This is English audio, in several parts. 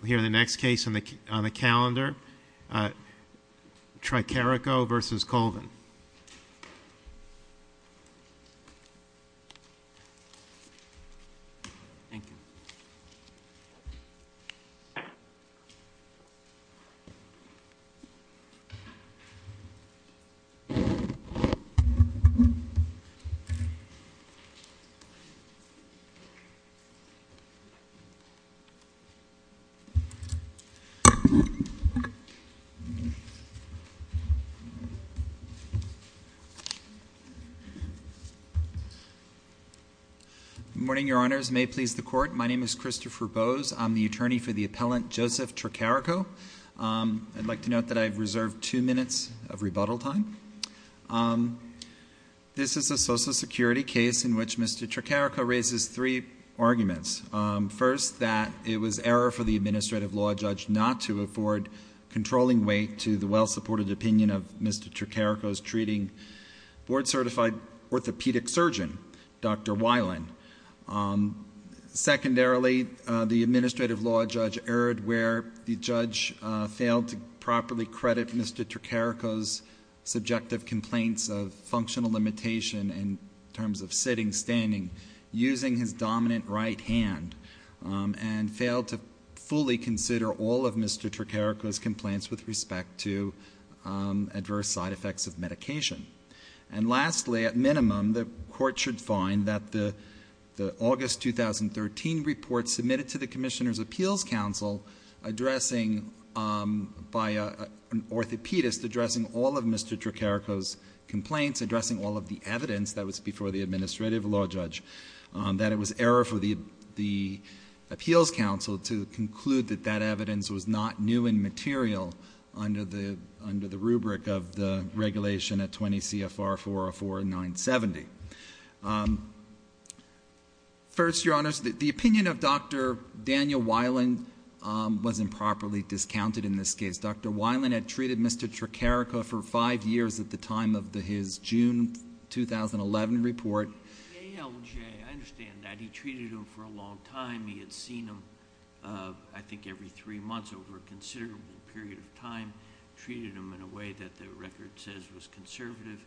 We'll hear in the next case on the calendar, Tricarico v. Colvin. Thank you. Good morning, your honors. May it please the court, my name is Christopher Bowes. I'm the attorney for the appellant Joseph Tricarico. I'd like to note that I've reserved two minutes of rebuttal time. This is a Social Security case in which Mr. Tricarico raises three arguments. First, that it was error for the administrative law judge not to afford controlling weight to the well-supported opinion of Mr. Tricarico's treating board-certified orthopedic surgeon, Dr. Weiland. Secondarily, the administrative law judge erred where the judge failed to properly credit Mr. Tricarico's subjective complaints of functional limitation in terms of sitting, standing, using his dominant right hand, and failed to fully consider all of Mr. Tricarico's complaints with respect to adverse side effects of medication. And lastly, at minimum, the court should find that the August 2013 report submitted to the Commissioner's Appeals Council addressing, by an orthopedist, addressing all of Mr. Tricarico's complaints, addressing all of the evidence that was before the administrative law judge, that it was error for the Appeals Council to conclude that that evidence was not new and material under the rubric of the regulation at 20 CFR 404970. First, Your Honors, the opinion of Dr. Daniel Weiland was improperly discounted in this case. Dr. Weiland had treated Mr. Tricarico for five years at the time of his June 2011 report. The ALJ, I understand that. He treated him for a long time. He had seen him, I think, every three months over a considerable period of time, treated him in a way that the record says was conservative.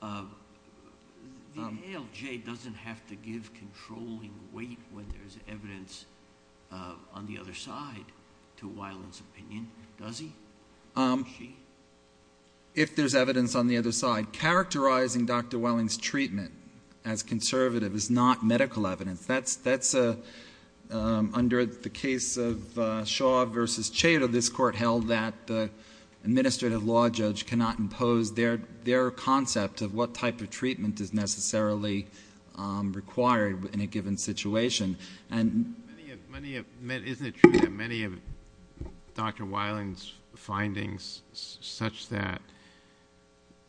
The ALJ doesn't have to give controlling weight when there's evidence on the other side to Weiland's opinion, does he? If there's evidence on the other side. Characterizing Dr. Weiland's treatment as conservative is not medical evidence. That's under the case of Shaw versus Cheadle. This court held that the administrative law judge cannot impose their concept of what type of treatment is necessarily required in a given situation. Isn't it true that many of Dr. Weiland's findings such that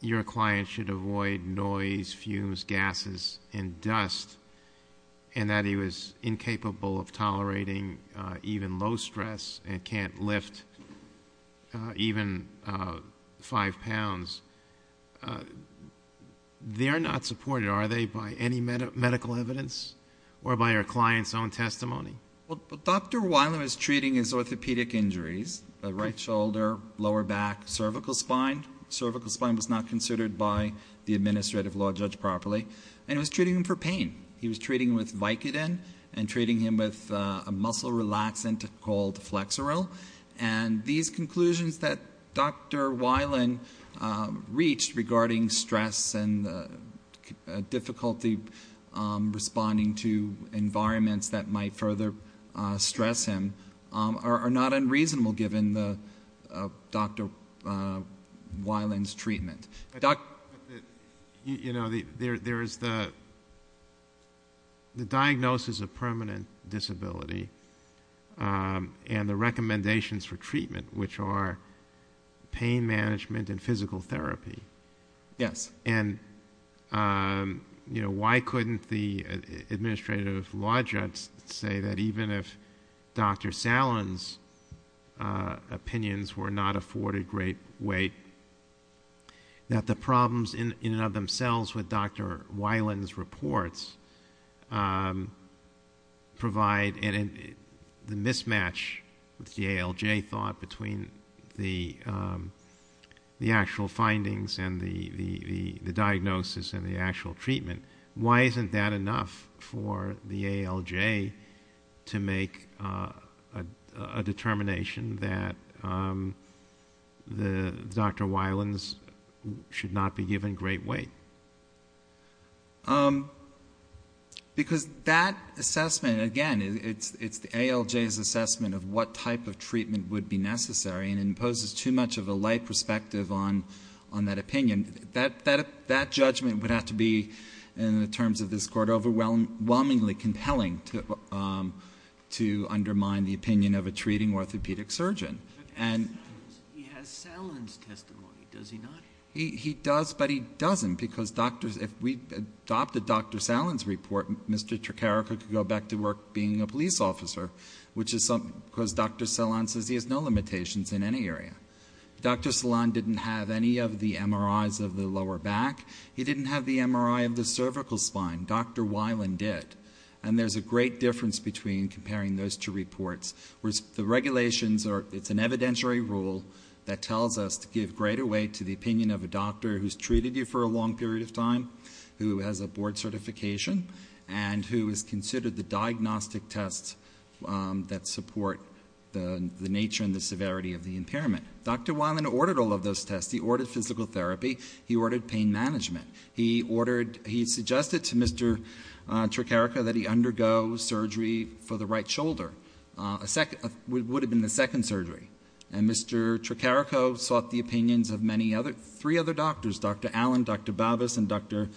your client should avoid noise, fumes, gases, and dust, and that he was incapable of tolerating even low stress and can't lift even five pounds, they're not supported. Are they by any medical evidence or by your client's own testimony? Well, Dr. Weiland was treating his orthopedic injuries, right shoulder, lower back, cervical spine. Cervical spine was not considered by the administrative law judge properly. And he was treating him for pain. He was treating him with Vicodin and treating him with a muscle relaxant called Flexeril. And these conclusions that Dr. Weiland reached regarding stress and difficulty responding to environments that might further stress him are not unreasonable given Dr. Weiland's treatment. You know, there is the diagnosis of permanent disability and the recommendations for treatment, which are pain management and physical therapy. Yes. And, you know, why couldn't the administrative law judge say that even if Dr. Salen's opinions were not afforded great weight, that the problems in and of themselves with Dr. Weiland's reports provide the mismatch with the ALJ thought between the actual findings and the diagnosis and the actual treatment? Why isn't that enough for the ALJ to make a determination that Dr. Weiland should not be given great weight? Because that assessment, again, it's the ALJ's assessment of what type of treatment would be necessary and imposes too much of a light perspective on that opinion. That judgment would have to be, in the terms of this court, overwhelmingly compelling to undermine the opinion of a treating orthopedic surgeon. But he has Salen's testimony, does he not? He does, but he doesn't. Because if we adopted Dr. Salen's report, Mr. Tricharico could go back to work being a police officer, because Dr. Salen says he has no limitations in any area. Dr. Salen didn't have any of the MRIs of the lower back. He didn't have the MRI of the cervical spine. Dr. Weiland did. And there's a great difference between comparing those two reports. The regulations, it's an evidentiary rule that tells us to give greater weight to the opinion of a doctor who's treated you for a long period of time, who has a board certification, and who has considered the diagnostic tests that support the nature and the severity of the impairment. Dr. Weiland ordered all of those tests. He ordered physical therapy. He ordered pain management. He suggested to Mr. Tricharico that he undergo surgery for the right shoulder. It would have been the second surgery. And Mr. Tricharico sought the opinions of three other doctors. Dr. Allen, Dr. Babas, and Dr.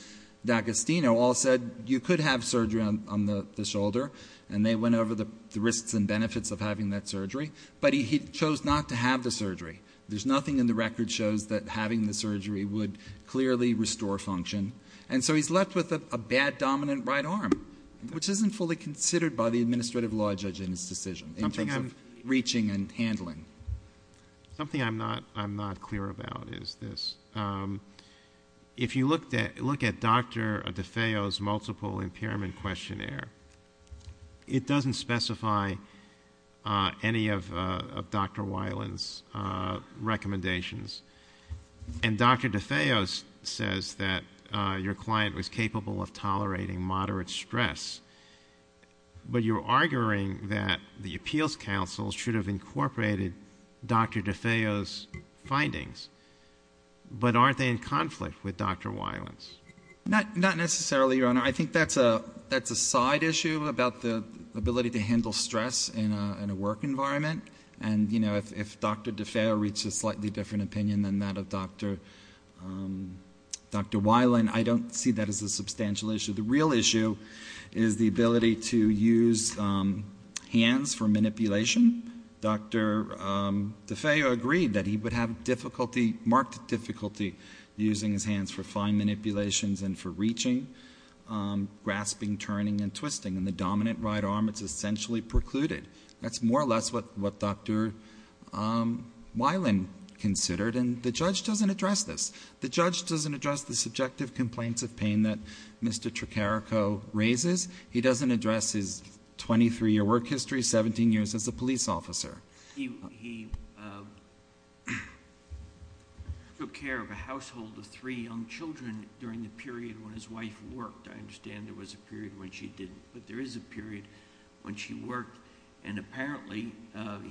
D'Agostino all said you could have surgery on the shoulder, and they went over the risks and benefits of having that surgery. But he chose not to have the surgery. There's nothing in the record shows that having the surgery would clearly restore function. And so he's left with a bad dominant right arm, which isn't fully considered by the administrative law judge in his decision in terms of reaching and handling. Something I'm not clear about is this. If you look at Dr. DeFeo's multiple impairment questionnaire, it doesn't specify any of Dr. Weiland's recommendations. And Dr. DeFeo says that your client was capable of tolerating moderate stress. But you're arguing that the appeals counsel should have incorporated Dr. DeFeo's findings. But aren't they in conflict with Dr. Weiland's? Not necessarily, Your Honor. I think that's a side issue about the ability to handle stress in a work environment. And, you know, if Dr. DeFeo reached a slightly different opinion than that of Dr. Weiland, I don't see that as a substantial issue. The real issue is the ability to use hands for manipulation. Dr. DeFeo agreed that he would have difficulty, marked difficulty, using his hands for fine manipulations and for reaching, grasping, turning, and twisting. In the dominant right arm, it's essentially precluded. That's more or less what Dr. Weiland considered, and the judge doesn't address this. The judge doesn't address the subjective complaints of pain that Mr. Trocarico raises. He doesn't address his 23-year work history, 17 years as a police officer. He took care of a household of three young children during the period when his wife worked. I understand there was a period when she didn't, but there is a period when she worked, and apparently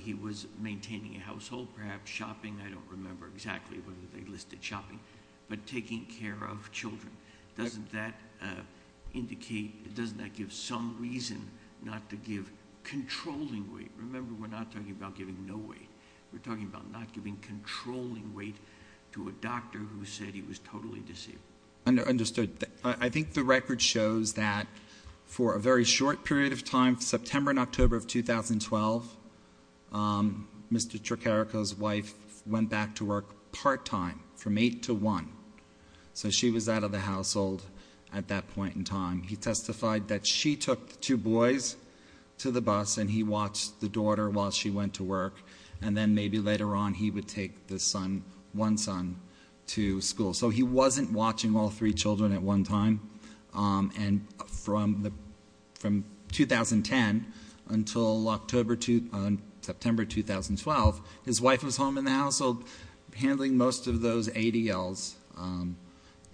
he was maintaining a household, perhaps shopping. I don't remember exactly whether they listed shopping, but taking care of children. Doesn't that indicate, doesn't that give some reason not to give controlling weight? Remember, we're not talking about giving no weight. We're talking about not giving controlling weight to a doctor who said he was totally disabled. Understood. I think the record shows that for a very short period of time, September and October of 2012, Mr. Trocarico's wife went back to work part-time from 8 to 1. So she was out of the household at that point in time. He testified that she took the two boys to the bus, and he watched the daughter while she went to work, and then maybe later on he would take the son, one son, to school. So he wasn't watching all three children at one time. And from 2010 until September 2012, his wife was home in the household handling most of those ADLs,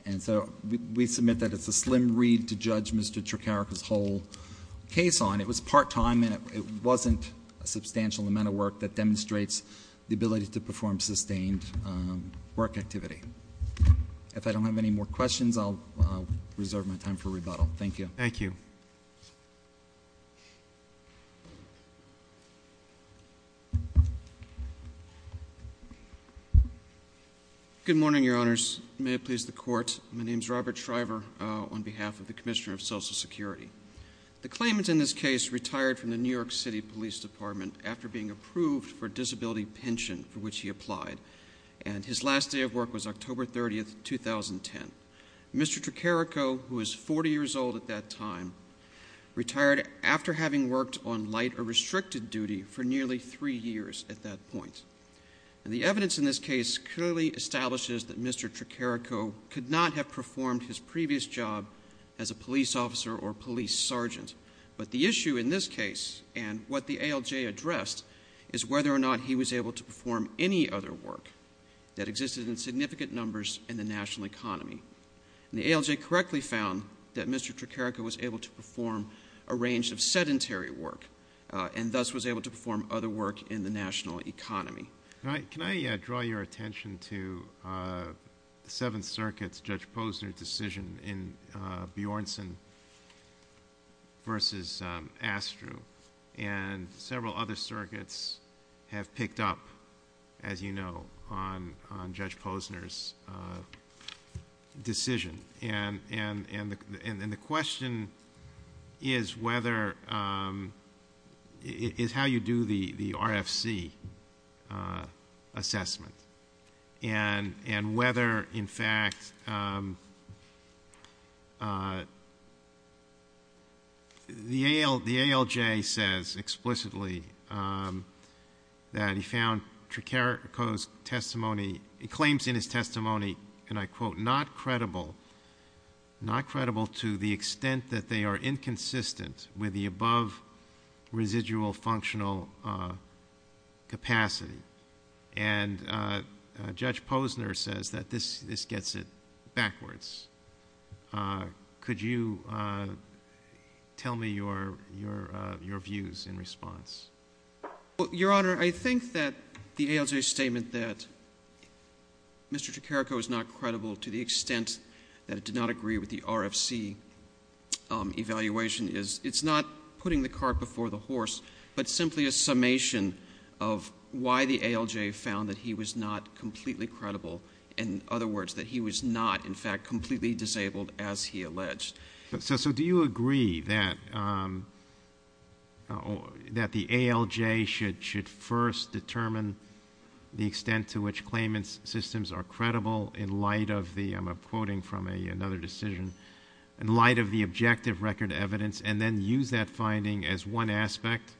and so we submit that it's a slim read to judge Mr. Trocarico's whole case on. It was part-time, and it wasn't a substantial amount of work that demonstrates the ability to perform sustained work activity. If I don't have any more questions, I'll reserve my time for rebuttal. Thank you. Thank you. Good morning, Your Honors. May it please the Court. My name is Robert Shriver on behalf of the Commissioner of Social Security. The claimant in this case retired from the New York City Police Department after being approved for a disability pension for which he applied, and his last day of work was October 30, 2010. Mr. Trocarico, who was 40 years old at that time, retired after having worked on light or restricted duty for nearly three years at that point. And the evidence in this case clearly establishes that Mr. Trocarico could not have performed his previous job as a police officer or police sergeant, but the issue in this case and what the ALJ addressed is whether or not he was able to perform any other work that existed in significant numbers in the national economy. And the ALJ correctly found that Mr. Trocarico was able to perform a range of sedentary work and thus was able to perform other work in the national economy. Can I draw your attention to the Seventh Circuit's Judge Posner decision in Bjornsson v. Astrew? And several other circuits have picked up, as you know, on Judge Posner's decision. And the question is how you do the RFC assessment and whether, in fact, the ALJ says explicitly that he found Trocarico's testimony, claims in his testimony, and I quote, not credible to the extent that they are inconsistent with the above residual functional capacity. And Judge Posner says that this gets it backwards. Could you tell me your views in response? Your Honor, I think that the ALJ's statement that Mr. Trocarico is not credible to the extent that it did not agree with the RFC evaluation is it's not putting the cart before the horse, but simply a summation of why the ALJ found that he was not completely credible. In other words, that he was not, in fact, completely disabled as he alleged. So do you agree that the ALJ should first determine the extent to which claimant's systems are credible in light of the, I'm quoting from another decision, in light of the objective record evidence and then use that finding as one aspect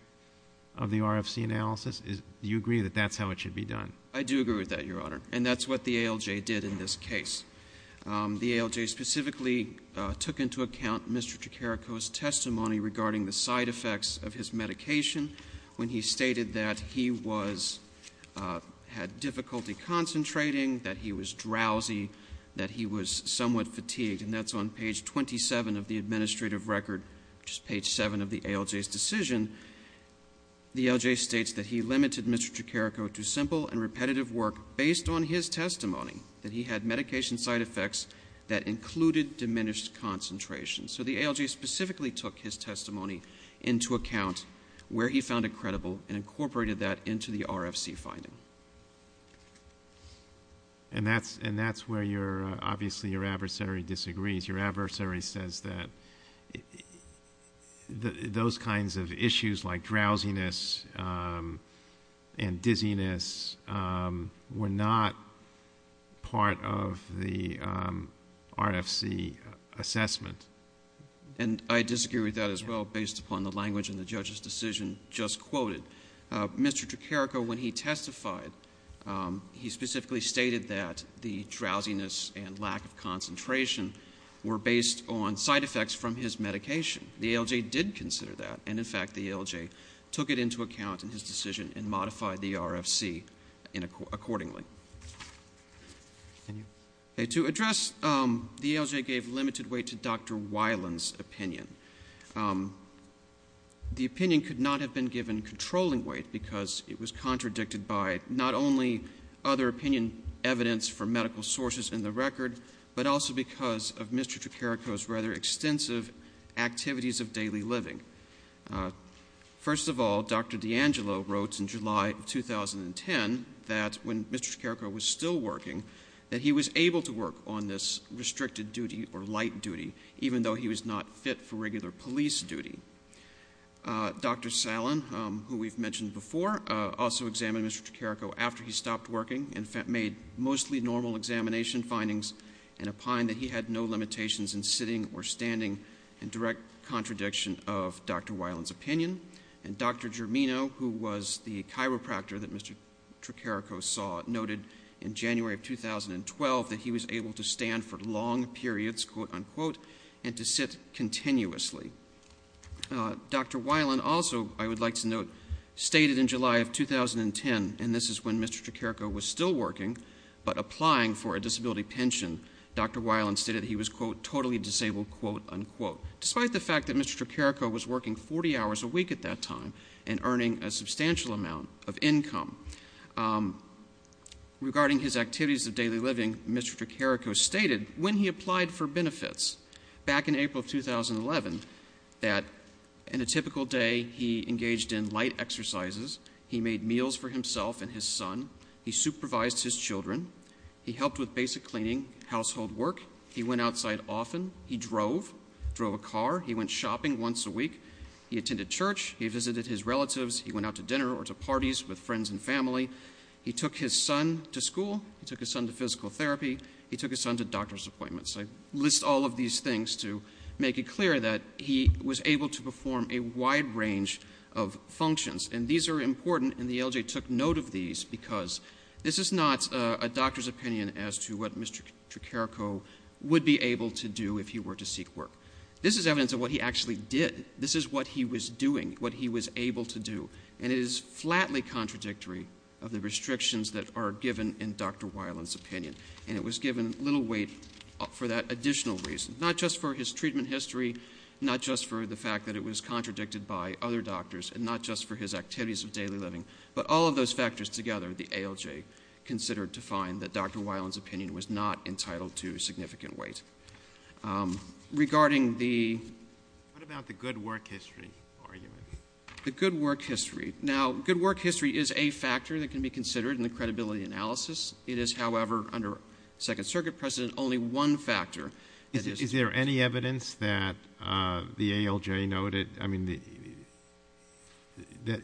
of the RFC analysis? Do you agree that that's how it should be done? I do agree with that, Your Honor, and that's what the ALJ did in this case. The ALJ specifically took into account Mr. Trocarico's testimony regarding the side effects of his medication when he stated that he had difficulty concentrating, that he was drowsy, that he was somewhat fatigued, and that's on page 27 of the administrative record, which is page 7 of the ALJ's decision. The ALJ states that he limited Mr. Trocarico to simple and repetitive work based on his testimony, that he had medication side effects that included diminished concentration. So the ALJ specifically took his testimony into account where he found it credible and incorporated that into the RFC finding. And that's where obviously your adversary disagrees. Your adversary says that those kinds of issues like drowsiness and dizziness were not part of the RFC assessment. And I disagree with that as well based upon the language in the judge's decision just quoted. Mr. Trocarico, when he testified, he specifically stated that the drowsiness and lack of concentration were based on side effects from his medication. The ALJ did consider that, and, in fact, the ALJ took it into account in his decision and modified the RFC accordingly. To address the ALJ gave limited weight to Dr. Weiland's opinion. The opinion could not have been given controlling weight because it was contradicted by not only other opinion evidence from medical sources in the record, but also because of Mr. Trocarico's rather extensive activities of daily living. First of all, Dr. DeAngelo wrote in July of 2010 that when Mr. Trocarico was still working, that he was able to work on this restricted duty or light duty, even though he was not fit for regular police duty. Dr. Salen, who we've mentioned before, also examined Mr. Trocarico after he stopped working and made mostly normal examination findings and opined that he had no limitations in sitting or standing in direct contradiction of Dr. Weiland's opinion. And Dr. Germino, who was the chiropractor that Mr. Trocarico saw, noted in January of 2012 that he was able to stand for long periods, quote-unquote, and to sit continuously. Dr. Weiland also, I would like to note, stated in July of 2010, and this is when Mr. Trocarico was still working but applying for a disability pension, Dr. Weiland stated that he was, quote, totally disabled, quote-unquote, despite the fact that Mr. Trocarico was working 40 hours a week at that time and earning a substantial amount of income. Regarding his activities of daily living, Mr. Trocarico stated when he applied for benefits back in April of 2011, that in a typical day, he engaged in light exercises, he made meals for himself and his son, he supervised his children, he helped with basic cleaning, household work, he went outside often, he drove, drove a car, he went shopping once a week, he attended church, he visited his relatives, he went out to dinner or to parties with friends and family, he took his son to school, he took his son to physical therapy, he took his son to doctor's appointments. I list all of these things to make it clear that he was able to perform a wide range of functions. And these are important and the LJ took note of these because this is not a doctor's opinion as to what Mr. Trocarico would be able to do if he were to seek work. This is evidence of what he actually did. This is what he was doing, what he was able to do. And it is flatly contradictory of the restrictions that are given in Dr. Weiland's opinion. And it was given little weight for that additional reason, not just for his treatment history, not just for the fact that it was contradicted by other doctors, and not just for his activities of daily living, but all of those factors together, the ALJ considered to find that Dr. Weiland's opinion was not entitled to significant weight. Regarding the... What about the good work history argument? The good work history. Now, good work history is a factor that can be considered in the credibility analysis. It is, however, under Second Circuit precedent, only one factor. Is there any evidence that the ALJ noted, I mean, that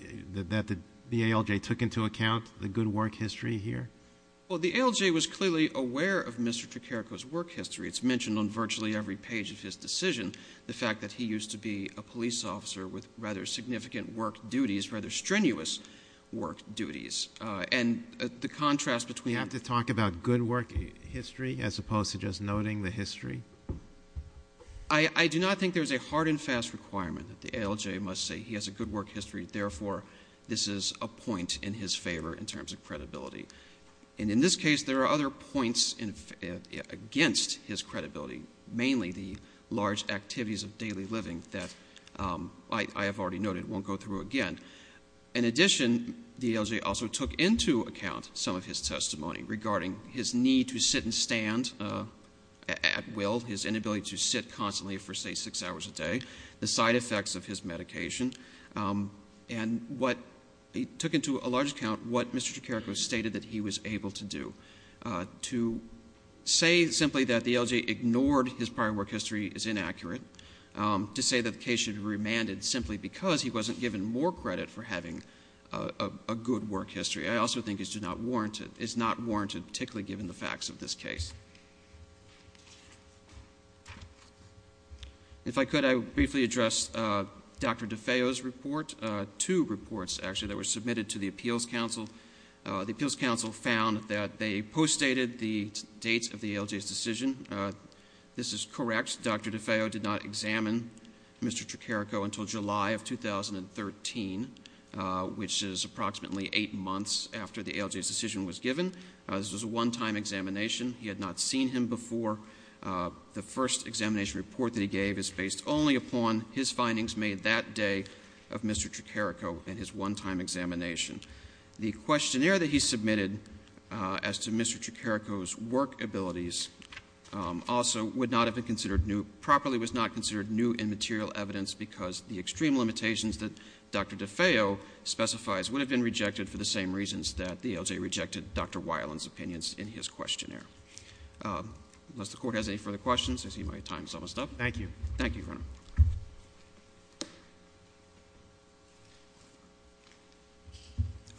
the ALJ took into account the good work history here? Well, the ALJ was clearly aware of Mr. Trocarico's work history. It's mentioned on virtually every page of his decision, the fact that he used to be a police officer with rather significant work duties, rather strenuous work duties. And the contrast between... Does he have to talk about good work history as opposed to just noting the history? I do not think there's a hard and fast requirement that the ALJ must say he has a good work history, therefore this is a point in his favor in terms of credibility. And in this case, there are other points against his credibility, mainly the large activities of daily living that I have already noted won't go through again. In addition, the ALJ also took into account some of his testimony regarding his need to sit and stand at will, his inability to sit constantly for, say, six hours a day, the side effects of his medication, and he took into a large account what Mr. Trocarico stated that he was able to do. To say simply that the ALJ ignored his prior work history is inaccurate. To say that the case should be remanded simply because he wasn't given more credit for having a good work history, I also think is not warranted, particularly given the facts of this case. If I could, I would briefly address Dr. DeFeo's report. Two reports, actually, that were submitted to the Appeals Council. The Appeals Council found that they postdated the date of the ALJ's decision. This is correct. Dr. DeFeo did not examine Mr. Trocarico until July of 2013, which is approximately eight months after the ALJ's decision was given. This was a one-time examination. He had not seen him before. The first examination report that he gave is based only upon his findings made that day of Mr. Trocarico and his one-time examination. The questionnaire that he submitted as to Mr. Trocarico's work abilities also would not have been considered new, properly was not considered new in material evidence because the extreme limitations that Dr. DeFeo specifies would have been rejected for the same reasons that the ALJ rejected Dr. Weiland's opinions in his questionnaire. Unless the Court has any further questions, I see my time is almost up. Thank you. Thank you, Your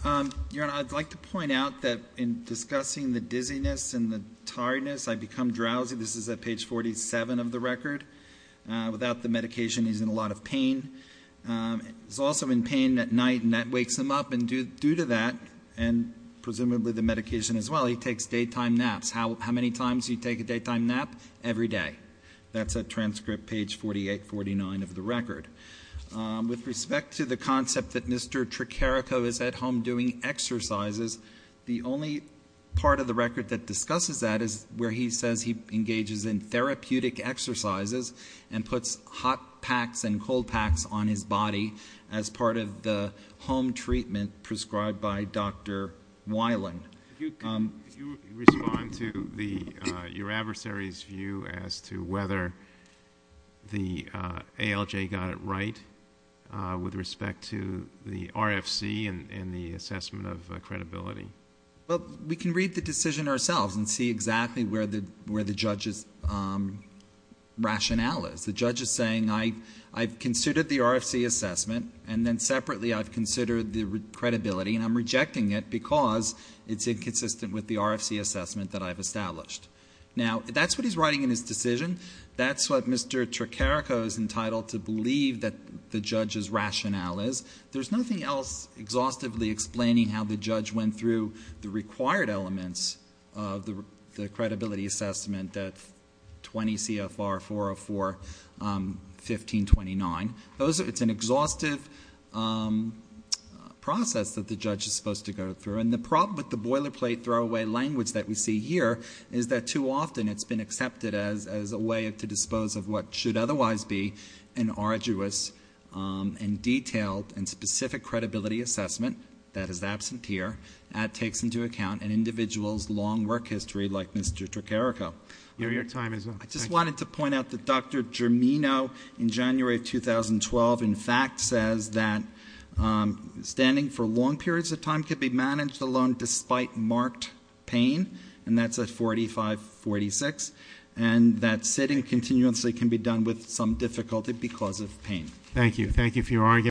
Honor. Your Honor, I'd like to point out that in discussing the dizziness and the tiredness, I become drowsy. This is at page 47 of the record. Without the medication, he's in a lot of pain. He's also in pain at night, and that wakes him up. And due to that, and presumably the medication as well, he takes daytime naps. How many times do you take a daytime nap? Every day. That's at transcript page 48, 49 of the record. With respect to the concept that Mr. Trocarico is at home doing exercises, the only part of the record that discusses that is where he says he engages in therapeutic exercises and puts hot packs and cold packs on his body as part of the home treatment prescribed by Dr. Weiland. Could you respond to your adversary's view as to whether the ALJ got it right with respect to the RFC and the assessment of credibility? Well, we can read the decision ourselves and see exactly where the judge's rationale is. The judge is saying, I've considered the RFC assessment, and then separately I've considered the credibility, and I'm rejecting it because it's inconsistent with the RFC assessment that I've established. Now, that's what he's writing in his decision. That's what Mr. Trocarico is entitled to believe that the judge's rationale is. There's nothing else exhaustively explaining how the judge went through the required elements of the credibility assessment at 20 CFR 404-1529. It's an exhaustive process that the judge is supposed to go through. And the problem with the boilerplate throwaway language that we see here is that too often it's been accepted as a way to dispose of what should otherwise be an arduous and detailed and specific credibility assessment that is absent here and takes into account an individual's long work history like Mr. Trocarico. Your time is up. I just wanted to point out that Dr. Germino in January of 2012, in fact, says that standing for long periods of time can be managed alone despite marked pain, and that's at 45-46, and that sitting continuously can be done with some difficulty because of pain. Thank you. Thank you for your argument.